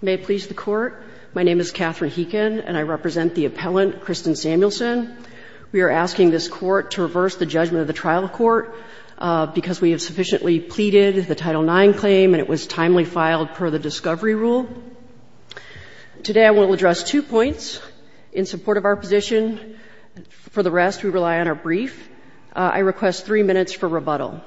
May it please the Court, my name is Katherine Heekin and I represent the appellant Kristen Samuelson. We are asking this Court to reverse the judgment of the trial court because we have sufficiently pleaded the Title IX claim and it was timely filed per the discovery rule. Today I will address two points in support of our position. For the rest, we rely on our brief. I request three minutes for rebuttal.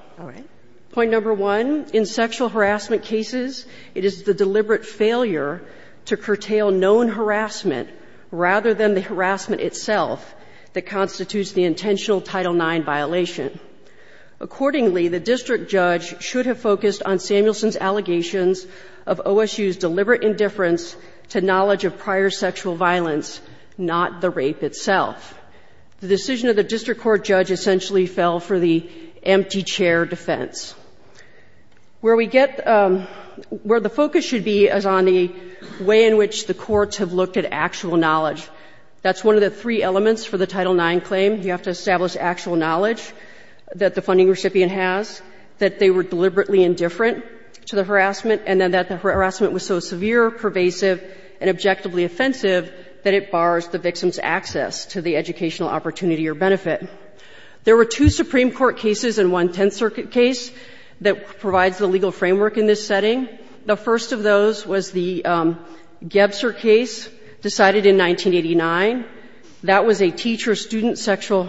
Point number one, in sexual harassment cases, it is the deliberate failure to curtail known harassment rather than the harassment itself that constitutes the intentional Title IX violation. Accordingly, the district judge should have focused on Samuelson's allegations of OSU's deliberate indifference to knowledge of prior sexual violence, not the rape itself. The decision of the district court judge essentially fell for the empty chair defense. Where we get, where the focus should be is on the way in which the courts have looked at actual knowledge. That's one of the three elements for the Title IX claim. You have to establish actual knowledge that the funding recipient has, that they were deliberately indifferent to the harassment, and then that the harassment was so severe, pervasive, and objectively offensive that it bars the victim's access to the educational opportunity or benefit. There were two Supreme Court cases and one Tenth Circuit case that provides the legal framework in this setting. The first of those was the Gebser case decided in 1989. That was a teacher-student sexual,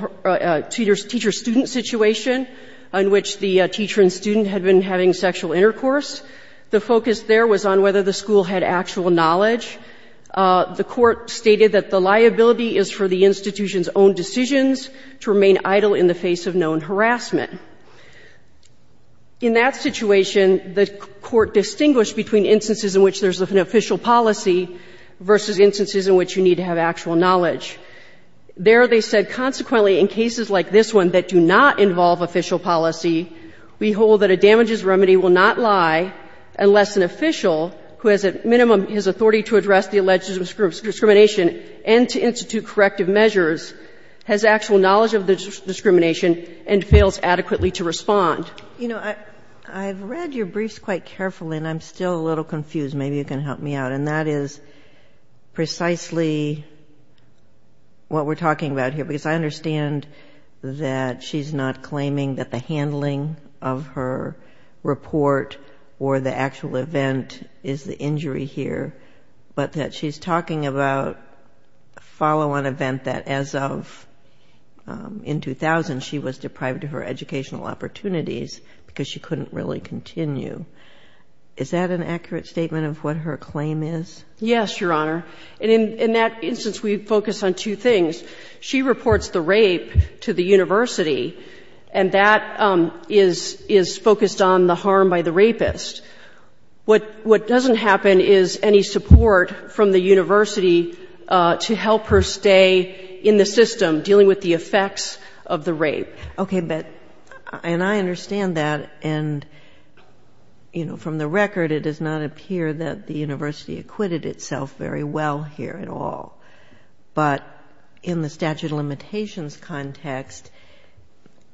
teacher-student situation in which the teacher and student had been having sexual intercourse. The focus there was on whether the school had actual knowledge. The court stated that the liability is for the institution's own decisions to remain idle in the face of known harassment. In that situation, the court distinguished between instances in which there's an official policy versus instances in which you need to have actual knowledge. There they said that, consequently, in cases like this one that do not involve official policy, we hold that a damages remedy will not lie unless an official who has at minimum his authority to address the alleged discrimination and to institute corrective measures has actual knowledge of the discrimination and fails adequately to respond. You know, I've read your briefs quite carefully, and I'm still a little confused. Maybe you can help me out. And that is precisely what we're talking about here, because I understand that she's not claiming that the handling of her report or the actual event is the injury here, but that she's talking about a follow-on event that as of in 2000 she was deprived of her educational opportunities because she didn't have the knowledge of what her claim is. Yes, Your Honor. And in that instance we focus on two things. She reports the rape to the university, and that is focused on the harm by the rapist. What doesn't happen is any support from the university to help her stay in the system, dealing with the effects of the rape. Okay. And I understand that. And, you know, from the record it does not appear that the university acquitted itself very well here at all. But in the statute of limitations context,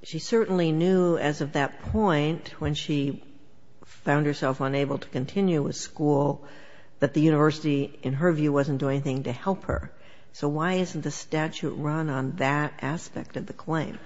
she certainly knew as of that point, when she found herself unable to continue with school, that the university, in her view, wasn't doing anything to help her. So why isn't the statute run on that aspect of the claim?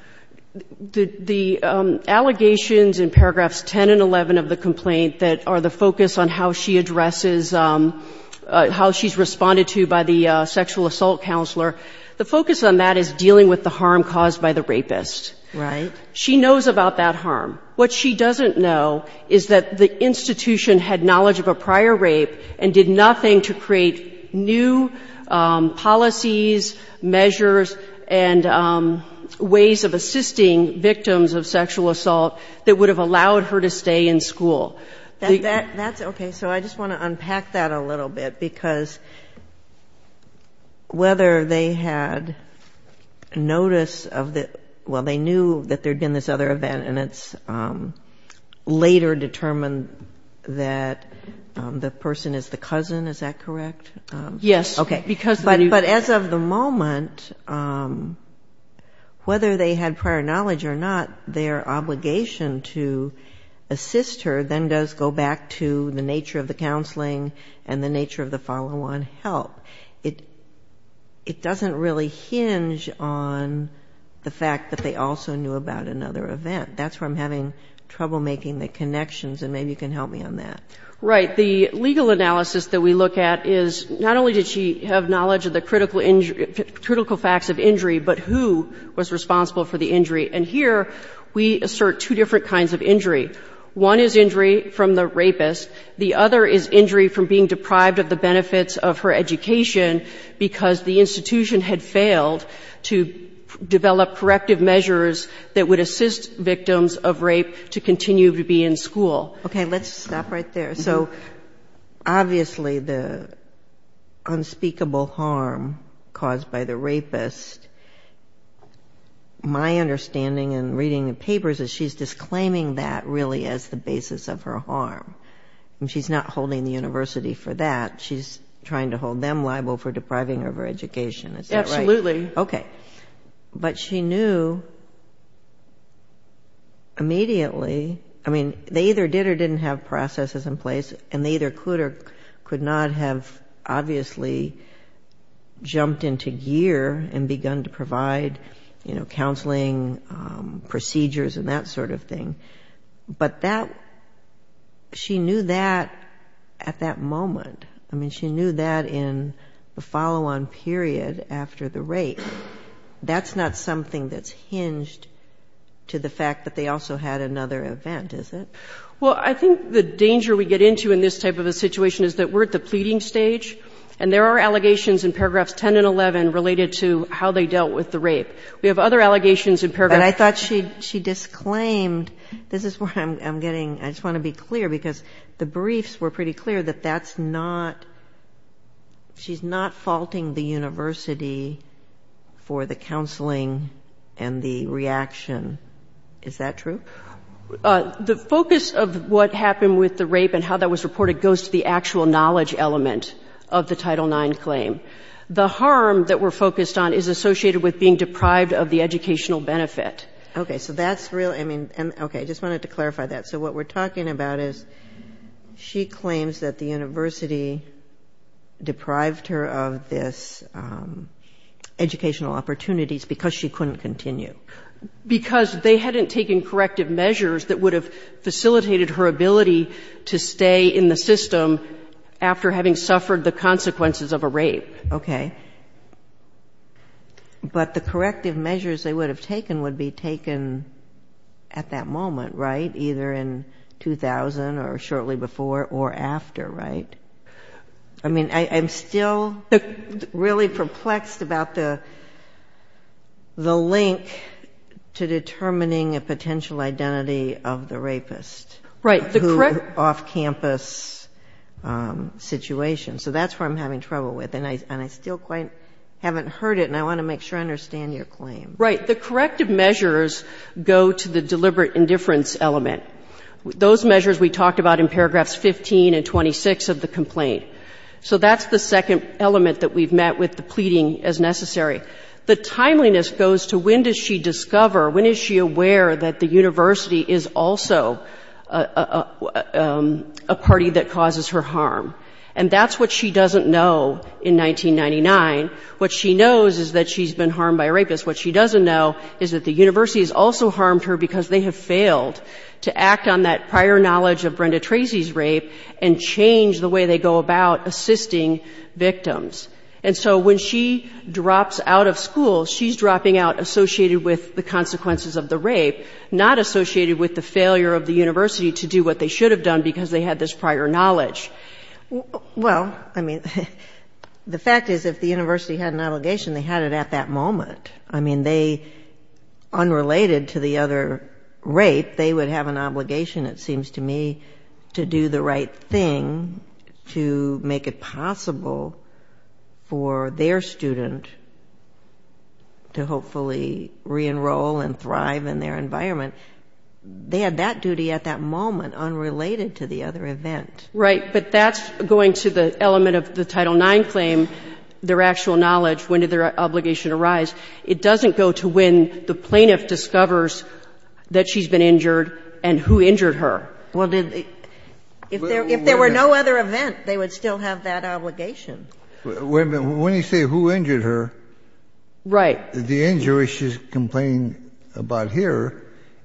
The allegations in paragraphs 10 and 11 of the complaint that are the focus on how she addresses how she's responded to by the sexual assault counselor, the focus on that is dealing with the harm caused by the rapist. Right. She knows about that harm. What she doesn't know is that the institution had knowledge of a prior rape and did nothing to create new policies, measures, and ways of assisting victims of sexual assault that would have allowed her to stay in school. That's okay. So I just want to unpack that a little bit, because whether they had notice of the, well, they knew that there'd been this other event and it's later determined that the person is the cousin, is that correct? Yes. But as of the moment, whether they had prior knowledge or not, their obligation to assist her then does go back to the nature of the counseling and the nature of the follow-on help. It doesn't really hinge on the fact that they also knew about another event. That's where I'm having trouble making the connections, and maybe you can help me on that. Right. The legal analysis that we look at is not only did she have knowledge of the critical facts of injury, but who was responsible for the injury. And here we assert two different kinds of injury. One is injury from the rapist. The other is injury from being deprived of the benefits of her education because the institution had failed to develop corrective measures that would assist victims of rape to continue to be in school. Okay. Let's stop right there. So obviously the unspeakable harm caused by the rapist, my understanding in reading the papers is she's disclaiming that really as the basis of her harm. And she's not holding the university for that. She's trying to hold them liable for depriving her of her education. Is that right? Absolutely. Okay. But she knew immediately, I mean, they either did or didn't have processes in place, and they either could or could not have obviously jumped into gear and begun to provide counseling procedures and that sort of thing. But she knew that at that moment. I mean, she knew that in the follow-on period after the rape. That's not something that's hinged to the fact that they also had another event, is it? Well, I think the danger we get into in this type of a situation is that we're at the pleading stage. And there are allegations in paragraphs 10 and 11 related to how they dealt with the rape. We have other allegations in paragraph... But I thought she disclaimed, this is where I'm getting, I just want to be clear, because the briefs were pretty clear that that's not, she's not faulting the university for the counseling and the reaction. Is that true? The focus of what happened with the rape and how that was reported goes to the actual knowledge element of the Title IX claim. The harm that we're focused on is associated with being deprived of the educational benefit. Okay. So that's really, I mean, okay. I just wanted to clarify that. So what we're talking about is she claims that the university deprived her of this educational opportunities because she couldn't continue. Because they hadn't taken corrective measures that would have facilitated her ability to stay in the system after having suffered the consequences of a rape. Okay. But the corrective measures they would have taken would be taken at that moment, right? Either in 2000 or shortly before or after, right? I mean, I'm still really perplexed about the link to determining a potential identity of the rapist. Right. Off-campus situation. So that's where I'm having trouble with. And I still quite haven't heard it, and I want to make sure I understand your claim. Right. The corrective measures go to the deliberate indifference element. Those measures we talked about in paragraphs 15 and 26 of the complaint. So that's the second element that we've met with the pleading as a party that causes her harm. And that's what she doesn't know in 1999. What she knows is that she's been harmed by a rapist. What she doesn't know is that the university has also harmed her because they have failed to act on that prior knowledge of Brenda Tracy's rape and change the way they go about assisting victims. And so when she drops out of school, she's dropping out associated with the consequences of the rape, not associated with the failure of the university to do what they should have done because they had this prior knowledge. Well, I mean, the fact is, if the university had an obligation, they had it at that moment. I mean, they, unrelated to the other rape, they would have an obligation, it seems to me, to do the right thing to make it possible for their student to hopefully re-enroll and thrive in their environment. They had that duty at that moment, unrelated to the other event. Right. But that's going to the element of the Title IX claim, their actual knowledge, when did their obligation arise. It doesn't go to when the plaintiff discovers that she's been injured and who injured her. Well, did they — if there were no other event, they would still have that obligation. Wait a minute. When you say who injured her — Right. — the injury she's complaining about here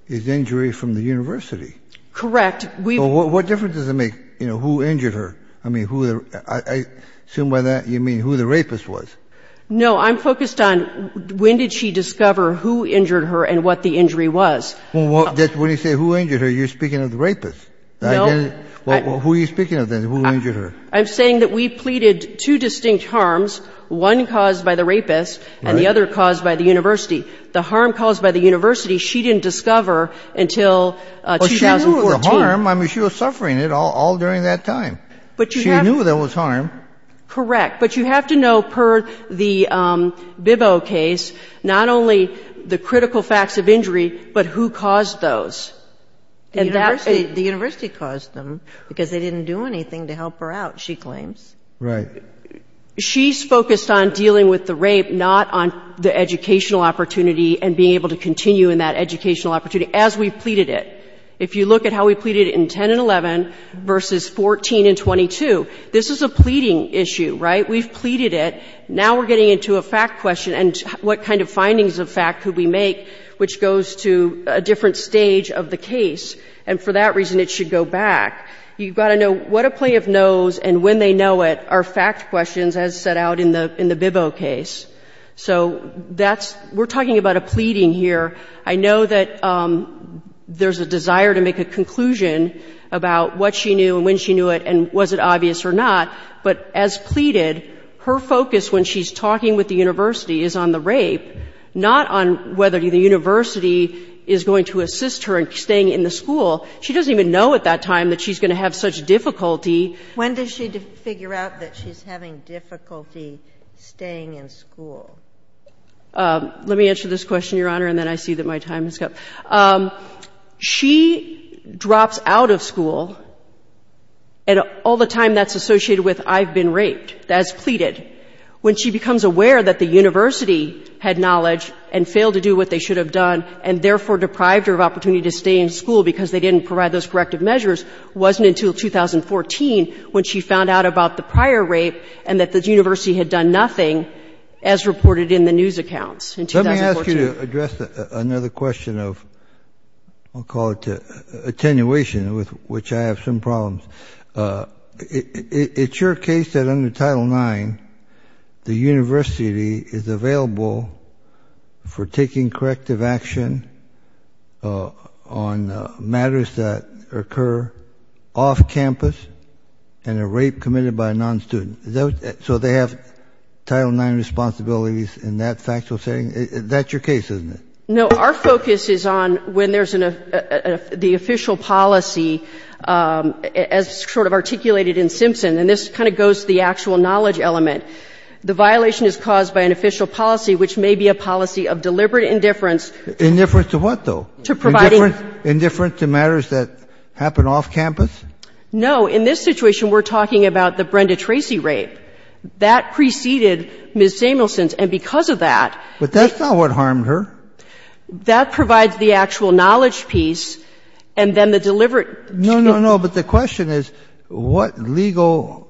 is injury from the university. Correct. What difference does it make, you know, who injured her? I mean, I assume by that you mean who the rapist was. No, I'm focused on when did she discover who injured her and what the injury was. Well, when you say who injured her, you're speaking of the rapist. No. Who are you speaking of then, who injured her? I'm saying that we pleaded two distinct harms, one caused by the rapist and the other caused by the university. The harm caused by the university she didn't discover until 2014. Well, she knew it was a harm. I mean, she was suffering it all during that time. She knew there was harm. Correct. But you have to know, per the Bibo case, not only the critical facts of injury, but who caused those. The university caused them because they didn't do anything to help her out, she claims. Right. She's focused on dealing with the rape, not on the educational opportunity and being able to continue in that educational opportunity, as we pleaded it. If you look at how we pleaded it in 10 and 11 versus 14 and 22, this is a pleading issue, right? We've pleaded it. Now we're getting into a fact question and what kind of findings of fact could we make which goes to a different stage of the case. And for that reason, it should go back. You've got to know what a plaintiff knows and when they know it are fact questions as set out in the Bibo case. So that's, we're talking about a pleading here. I know that there's a desire to make a conclusion about what she knew and when she knew it and was it obvious or not. But as pleaded, her focus when she's talking with the university is on the rape, not on whether the university is going to have such difficulty. When does she figure out that she's having difficulty staying in school? Let me answer this question, Your Honor, and then I see that my time has come. She drops out of school and all the time that's associated with I've been raped, that's pleaded. When she becomes aware that the university had knowledge and failed to do what they should have done and therefore deprived her of opportunity to stay in school because they didn't provide those corrective measures wasn't until 2014 when she found out about the prior rape and that the university had done nothing as reported in the news accounts in 2014. Let me ask you to address another question of, I'll call it attenuation, with which I have some problems. It's your case that under Title IX the university is available for taking corrective action on matters that occur off campus and a rape committed by a non-student. So they have Title IX responsibilities in that factual setting? That's your case, isn't it? No, our focus is on when there's the official policy as sort of articulated in Simpson. And this kind of goes to the actual knowledge element. The violation is caused by an official policy which may be a policy of deliberate indifference. Indifference to what, though? To providing. Indifference to matters that happen off campus? No. In this situation we're talking about the Brenda Tracy rape. That preceded Ms. Samuelson's and because of that. But that's not what harmed her. That provides the actual knowledge piece and then the deliberate. No, no, no. But the question is what legal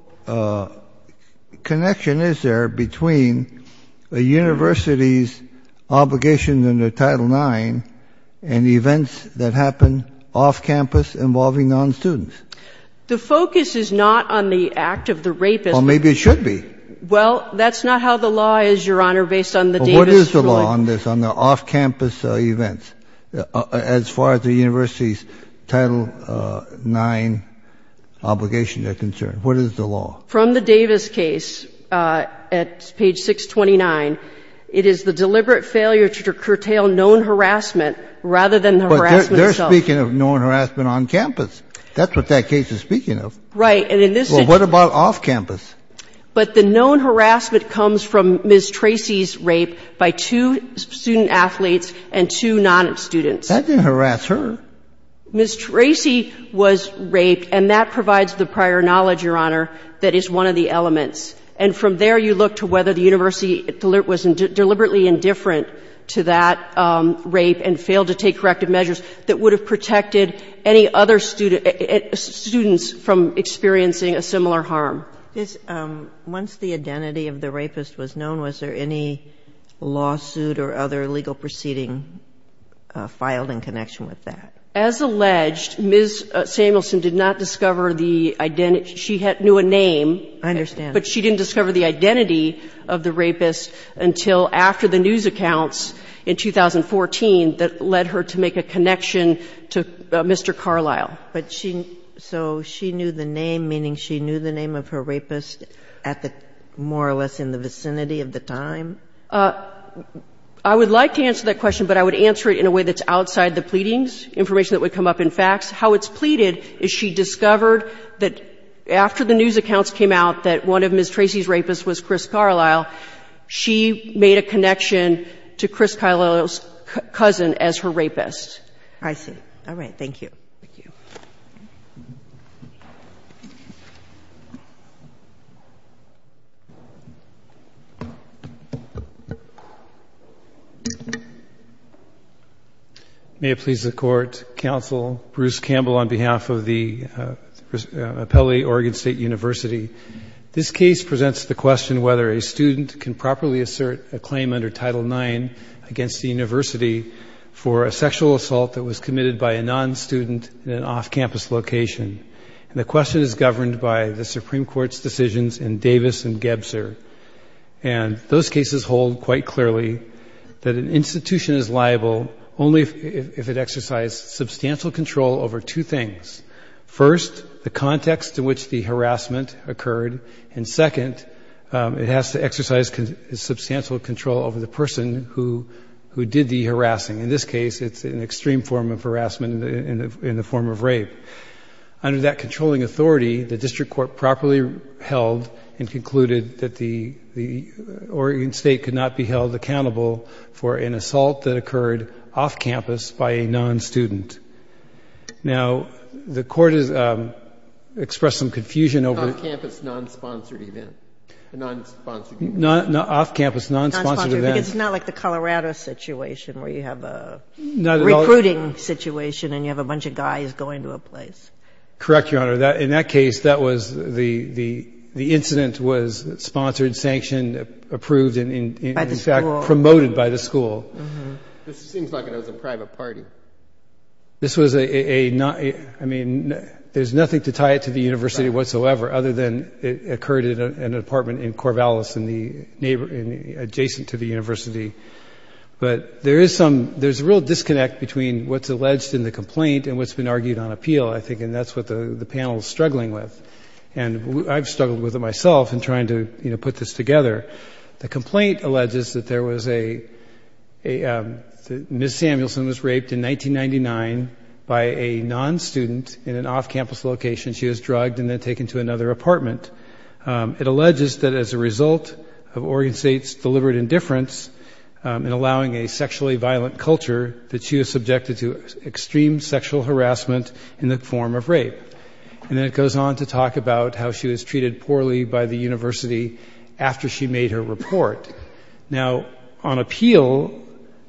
connection is there between a university's obligation under Title IX and the events that happen off campus involving non-students? The focus is not on the act of the rapist. Well, maybe it should be. Well, that's not how the law is, Your Honor, based on the Davis. What is the law on this, on the off-campus events as far as the university's Title IX obligation is concerned? What is the law? From the Davis case at page 629, it is the deliberate failure to curtail known harassment rather than the harassment itself. But they're speaking of known harassment on campus. That's what that case is speaking of. Right. And in this situation. Well, what about off campus? But the known harassment comes from Ms. Tracy's rape by two student athletes and two non-students. That didn't harass her. Ms. Tracy was raped, and that provides the prior knowledge, Your Honor, that is one of the elements. And from there, you look to whether the university was deliberately indifferent to that rape and failed to take corrective measures that would have protected any other students from experiencing a similar harm. Once the identity of the rapist was known, was there any lawsuit or other legal proceeding filed in connection with that? As alleged, Ms. Samuelson did not discover the identity. She knew a name. I understand. But she didn't discover the identity of the rapist until after the news accounts in 2014 that led her to make a connection to Mr. Carlisle. So she knew the name, meaning she knew the name of her rapist at the, more or less in the vicinity of the time? I would like to answer that question, but I would answer it in a way that's outside the pleadings, information that would come up in facts. How it's pleaded is she discovered that after the news accounts came out that one of Ms. Tracy's rapists was Chris Carlisle, she made a connection to Chris Carlisle's cousin as her rapist. I see. All right. Thank you. Thank you. May it please the Court, Counsel Bruce Campbell on behalf of the Appellate Oregon State University. This case presents the question whether a student can properly assert a claim under Title IX against the university for a sexual assault that was committed by a non-student in an off-campus location. And the question is governed by the Supreme Court's decisions in Davis and Gebser. And those cases hold quite clearly that an institution is liable only if it exercised substantial control over two things. First, the context in which the harassment occurred. And second, it has to exercise substantial control over the person who did the harassing. In this case, it's an extreme form of harassment in the form of rape. Under that controlling authority, the district court properly held and concluded that the Oregon State could not be held accountable for an assault that occurred off-campus by a non-student. Now, the court has expressed some confusion over... Off-campus non-sponsored event. Non-sponsored event. Off-campus non-sponsored event. It's not like the Colorado situation where you have a recruiting situation and you have a bunch of guys going to a place. Correct, Your Honor. In that case, that was the incident was sponsored, sanctioned, approved, and in fact... By the school. ...promoted by the school. This seems like it was a private party. This was a... I mean, there's nothing to tie it to the university whatsoever other than it occurred in an apartment in Corvallis adjacent to the university. But there is some... There's a real disconnect between what's alleged in the complaint and what's been argued on appeal, I think, and that's what the panel's struggling with. And I've struggled with it myself in trying to put this together. The complaint alleges that there was a... Ms. Samuelson was raped in 1999 by a non-student in an off-campus location. She was drugged and then taken to another apartment. It alleges that as a result of Oregon State's deliberate indifference in allowing a sexually violent culture, that she was subjected to extreme sexual harassment in the form of rape. And then it goes on to talk about how she was treated poorly by the university after she made her report. Now, on appeal,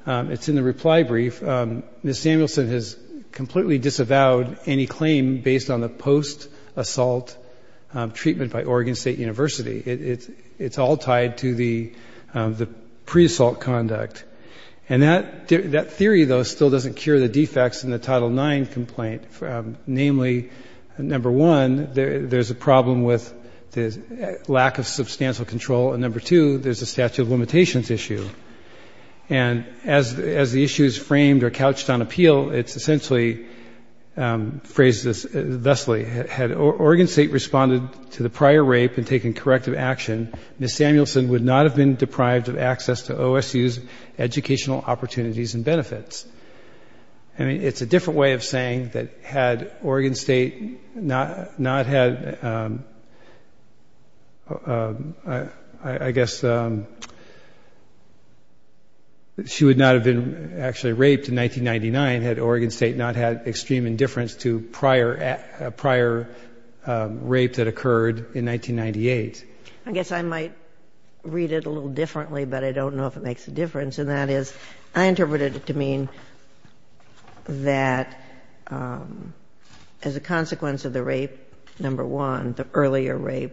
it's in the reply brief, Ms. Samuelson has completely disavowed any claim based on the post-assault treatment by Oregon State University. It's all tied to the pre-assault conduct. And that theory, though, still doesn't cure the defects in the Title IX complaint, namely, number one, there's a problem with the lack of substantial control, and number two, there's a statute of limitations issue. And as the issue is framed or couched on appeal, it's essentially phrased thusly. Had Oregon State responded to the prior rape and taken corrective action, Ms. Samuelson would not have been deprived of access to OSU's educational opportunities and benefits. I mean, it's a different way of saying that had Oregon State not had, I guess, she would not have been actually raped in 1999, had Oregon State not had extreme indifference to a prior rape that occurred in 1998. I guess I might read it a little differently, but I don't know if it makes a difference. And that is, I interpret it to mean that as a consequence of the rape, number one, the earlier rape,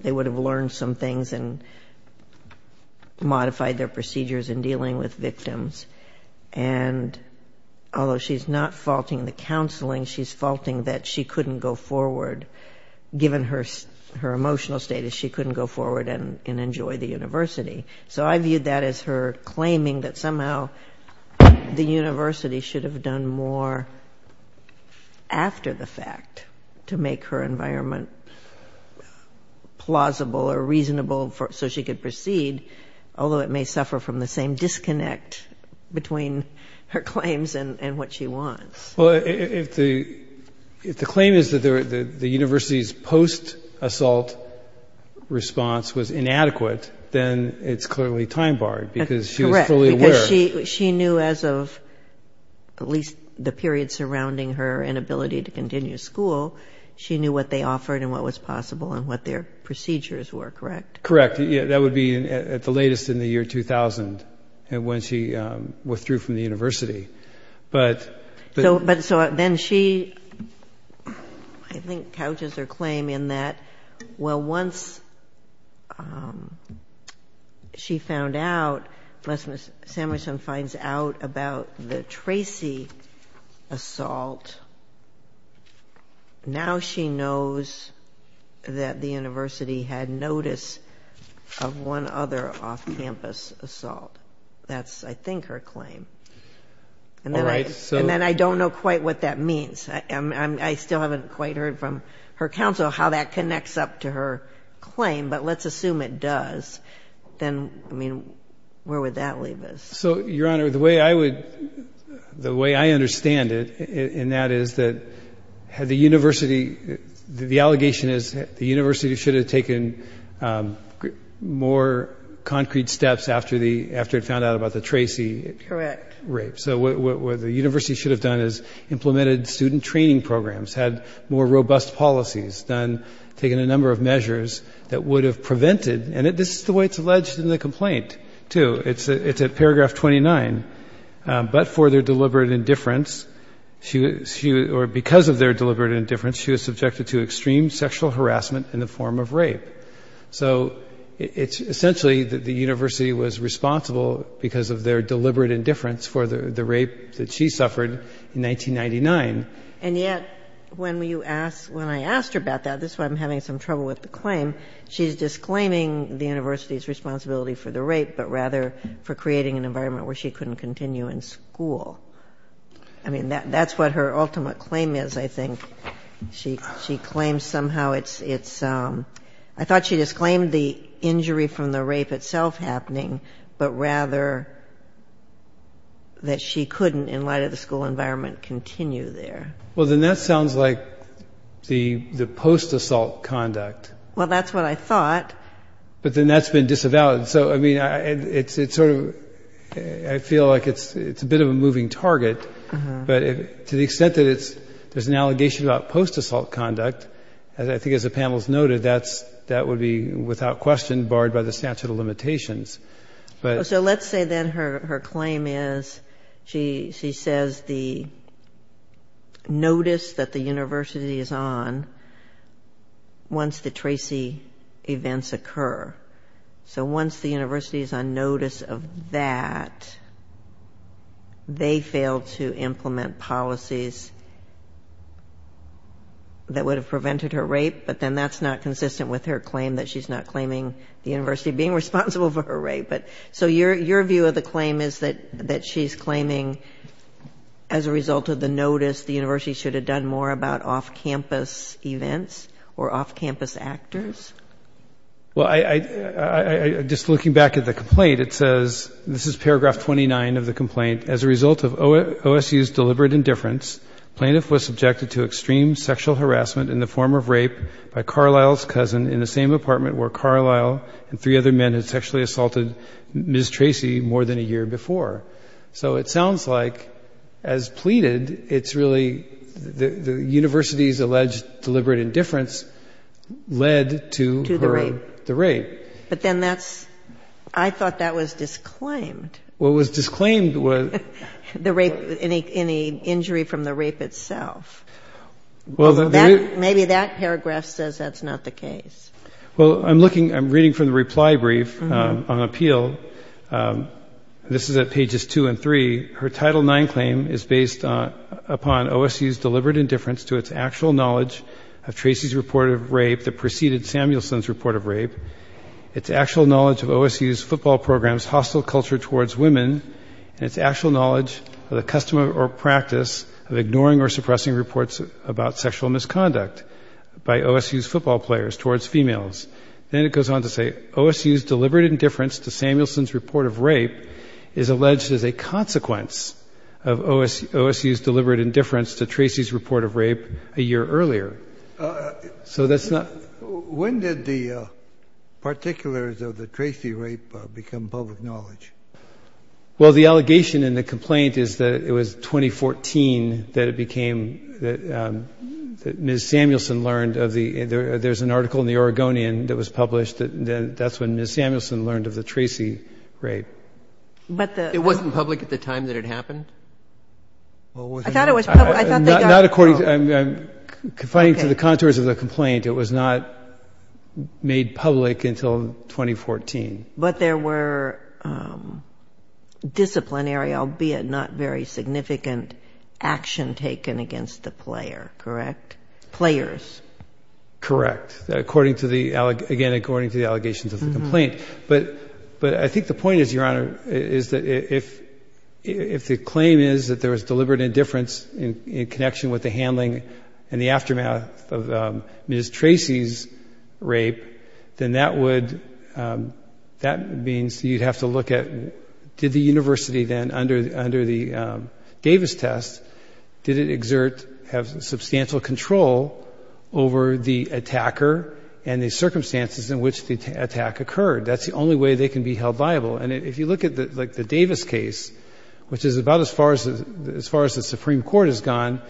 they would have learned some things and modified their procedures in dealing with victims. And although she's not faulting the counseling, she's faulting that she couldn't go forward, given her emotional status, she couldn't go forward and enjoy the university. So I viewed that as her claiming that somehow the university should have done more after the fact to make her environment plausible or reasonable so she could proceed, although it may suffer from the same disconnect between her claims and what she wants. Well, if the claim is that the university's post-assault response was inadequate, then it's clearly time-barred because she was fully aware. Correct, because she knew as of at least the period surrounding her inability to continue school, she knew what they offered and what was possible and what their procedures were, correct? Correct. That would be at the latest in the year 2000, when she withdrew from the university. So then she, I think, couches her claim in that, well, once she found out, unless Samuelson finds out about the Tracy assault, now she knows that the university had notice of one other off-campus assault. That's, I think, her claim. All right. And then I don't know quite what that means. I still haven't quite heard from her counsel how that connects up to her claim, but let's assume it does. Then, I mean, where would that leave us? So, Your Honor, the way I understand it, and that is that the university, the allegation is the university should have taken more concrete steps after it found out about the Tracy rape. Correct. So what the university should have done is implemented student training programs, had more robust policies, taken a number of measures that would have prevented, and this is the way it's alleged in the complaint, too. It's at paragraph 29. But for their deliberate indifference, or because of their deliberate indifference, she was subjected to extreme sexual harassment in the form of rape. So it's essentially that the university was responsible, because of their deliberate indifference for the rape that she suffered in 1999. And yet, when I asked her about that, this is why I'm having some trouble with the claim, she's disclaiming the university's responsibility for the rape, but rather for creating an environment where she couldn't continue in school. I mean, that's what her ultimate claim is, I think. She claims somehow it's, I thought she disclaimed the injury from the rape itself happening, but rather that she couldn't, in light of the school environment, continue there. Well, then that sounds like the post-assault conduct. Well, that's what I thought. But then that's been disavowed. So, I mean, it's sort of, I feel like it's a bit of a moving target. But to the extent that there's an allegation about post-assault conduct, I think as the panel has noted, that would be without question barred by the statute of limitations. So let's say then her claim is, she says the notice that the university is on once the Tracy events occur. So once the university is on notice of that, they fail to implement policies that would have prevented her rape, but then that's not consistent with her claim that she's not claiming the university being responsible for her rape. So your view of the claim is that she's claiming, as a result of the notice, the university should have done more about off-campus events or off-campus actors? Well, just looking back at the complaint, it says, this is paragraph 29 of the complaint, as a result of OSU's deliberate indifference, plaintiff was subjected to extreme sexual harassment in the form of rape by Carlisle's cousin in the same apartment where Carlisle and three other men had sexually assaulted Ms. Tracy more than a year before. So it sounds like, as pleaded, it's really the university's alleged deliberate indifference led to the rape. But then that's, I thought that was disclaimed. What was disclaimed was... The rape, any injury from the rape itself. Maybe that paragraph says that's not the case. Well, I'm looking, I'm reading from the reply brief on appeal. This is at pages two and three. Her Title IX claim is based upon OSU's deliberate indifference to its actual knowledge of Tracy's report of rape that preceded Samuelson's report of rape, its actual knowledge of OSU's football program's hostile culture towards women, and its actual knowledge of the custom or practice of ignoring or suppressing reports about sexual misconduct by OSU's football players towards females. Then it goes on to say, OSU's deliberate indifference to Samuelson's report of rape is alleged as a consequence of OSU's deliberate indifference to Tracy's report of rape a year earlier. So that's not... When did the particulars of the Tracy rape become public knowledge? Well, the allegation in the complaint is that it was 2014 that it became, that Ms. Samuelson learned of the... There's an article in the Oregonian that was published, and that's when Ms. Samuelson learned of the Tracy rape. It wasn't public at the time that it happened? I thought it was public. Not according to... Confining to the contours of the complaint, it was not made public until 2014. But there were disciplinary, albeit not very significant, action taken against the player, correct? Players. Correct. Again, according to the allegations of the complaint. But I think the point is, Your Honor, is that if the claim is that there was deliberate indifference in connection with the handling and the aftermath of Ms. Tracy's rape, then that would... That means you'd have to look at, did the university then, under the Davis test, did it exert, have substantial control over the attacker and the circumstances in which the attack occurred? That's the only way they can be held liable. And if you look at the Davis case, which is about as far as the Supreme Court has gone,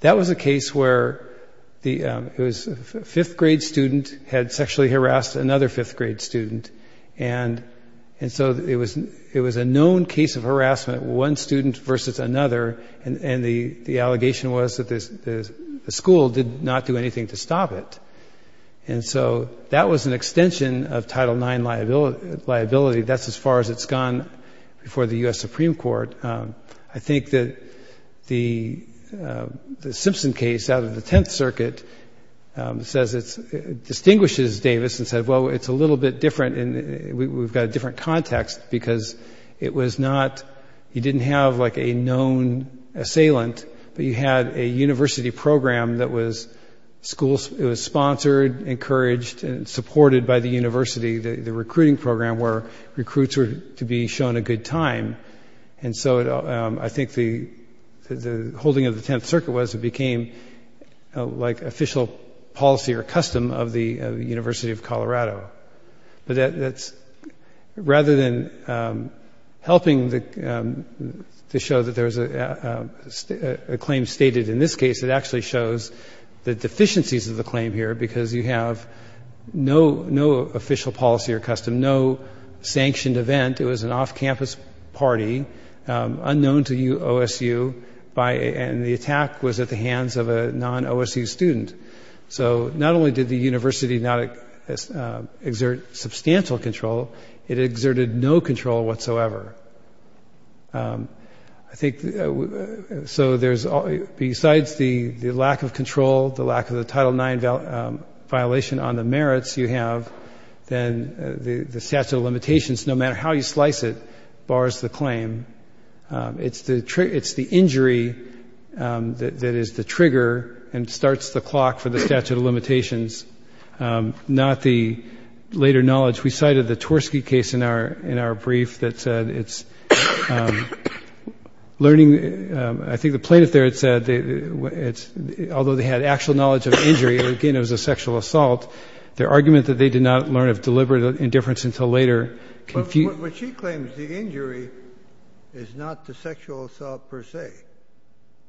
that was a case where it was a fifth-grade student had sexually harassed another fifth-grade student. And so it was a known case of harassment, one student versus another. And the allegation was that the school did not do anything to stop it. And so that was an extension of Title IX liability. That's as far as it's gone before the U.S. Supreme Court. I think that the Simpson case out of the Tenth Circuit says it distinguishes Davis and said, well, it's a little bit different and we've got a different context because it was not, you didn't have like a known assailant, but you had a university program that was sponsored, encouraged, and supported by the university, the recruiting program, where recruits were to be shown a good time. And so I think the holding of the Tenth Circuit was it became like official policy or custom of the University of Colorado. Rather than helping to show that there was a claim stated in this case, it actually shows the deficiencies of the claim here because you have no official policy or custom, no sanctioned event. It was an off-campus party unknown to OSU, and the attack was at the hands of a non-OSU student. So not only did the university not exert substantial control, it exerted no control whatsoever. So besides the lack of control, the lack of the Title IX violation on the merits you have, then the statute of limitations, no matter how you slice it, bars the claim. It's the injury that is the trigger and starts the clock for the statute of limitations, not the later knowledge. We cited the Tversky case in our brief that said it's learning. I think the plaintiff there had said although they had actual knowledge of injury, again, it was a sexual assault, their argument that they did not learn of deliberate indifference until later. Kennedy. But she claims the injury is not the sexual assault per se,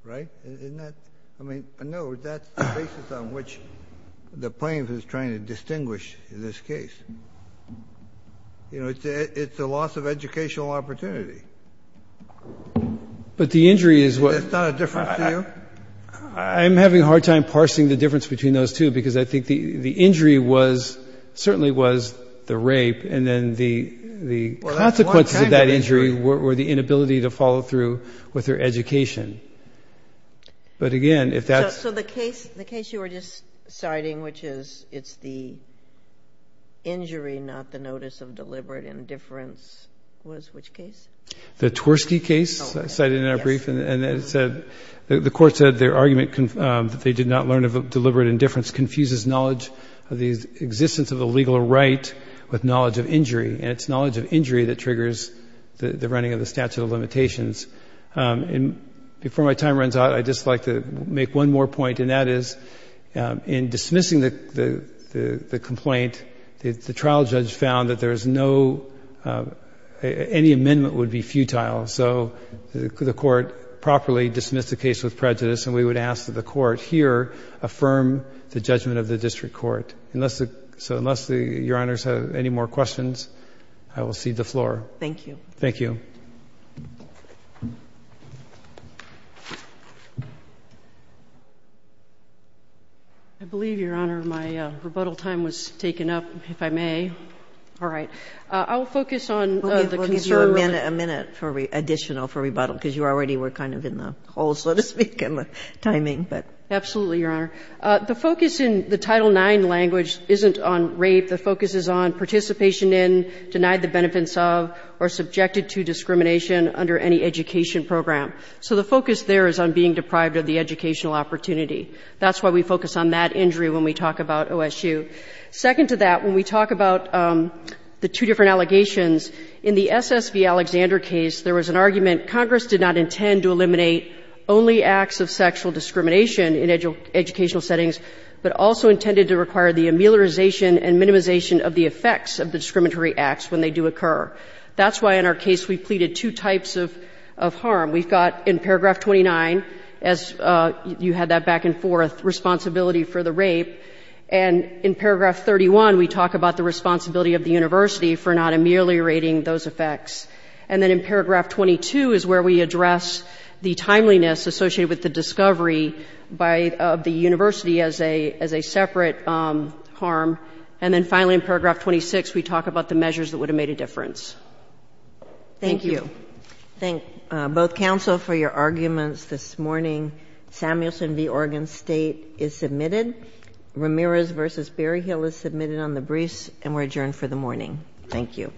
right? Isn't that? I mean, no, that's the basis on which the plaintiff is trying to distinguish in this case. You know, it's a loss of educational opportunity. But the injury is what? Is that not a difference to you? I'm having a hard time parsing the difference between those two because I think the injury was, certainly was the rape and then the consequences of that injury were the inability to follow through with their education. But, again, if that's. So the case you were just citing, which is it's the injury, not the notice of deliberate indifference, was which case? The Tversky case cited in our brief. Yes. And it said the court said their argument that they did not learn of deliberate indifference confuses knowledge of the existence of a legal right with knowledge of injury. And it's knowledge of injury that triggers the running of the statute of limitations. And before my time runs out, I'd just like to make one more point, and that is in dismissing the complaint, the trial judge found that there is no, any amendment would be futile. So the court properly dismissed the case with prejudice. And we would ask that the court here affirm the judgment of the district court. So unless Your Honors have any more questions, I will cede the floor. Thank you. Thank you. I believe, Your Honor, my rebuttal time was taken up, if I may. All right. I'll focus on the concern. A minute for additional, for rebuttal, because you already were kind of in the hole, so to speak, in the timing. Absolutely, Your Honor. The focus in the Title IX language isn't on rape. The focus is on participation in, denied the benefits of, or subjected to discrimination under any education program. So the focus there is on being deprived of the educational opportunity. That's why we focus on that injury when we talk about OSU. Second to that, when we talk about the two different allegations, in the SSV Alexander case, there was an argument, Congress did not intend to eliminate only acts of sexual discrimination in educational settings, but also intended to require the ameliorization and minimization of the effects of the discriminatory acts when they do occur. That's why in our case we pleaded two types of harm. We've got, in paragraph 29, as you had that back and forth, responsibility for the rape. And in paragraph 31, we talk about the responsibility of the university for not ameliorating those effects. And then in paragraph 22 is where we address the timeliness associated with the discovery of the university as a separate harm. And then finally in paragraph 26, we talk about the measures that would have made a difference. Thank you. Thank you. Thank both counsel for your arguments this morning. Samuelson v. Oregon State is submitted. Ramirez v. Berryhill is submitted on the briefs and we're adjourned for the morning. Thank you.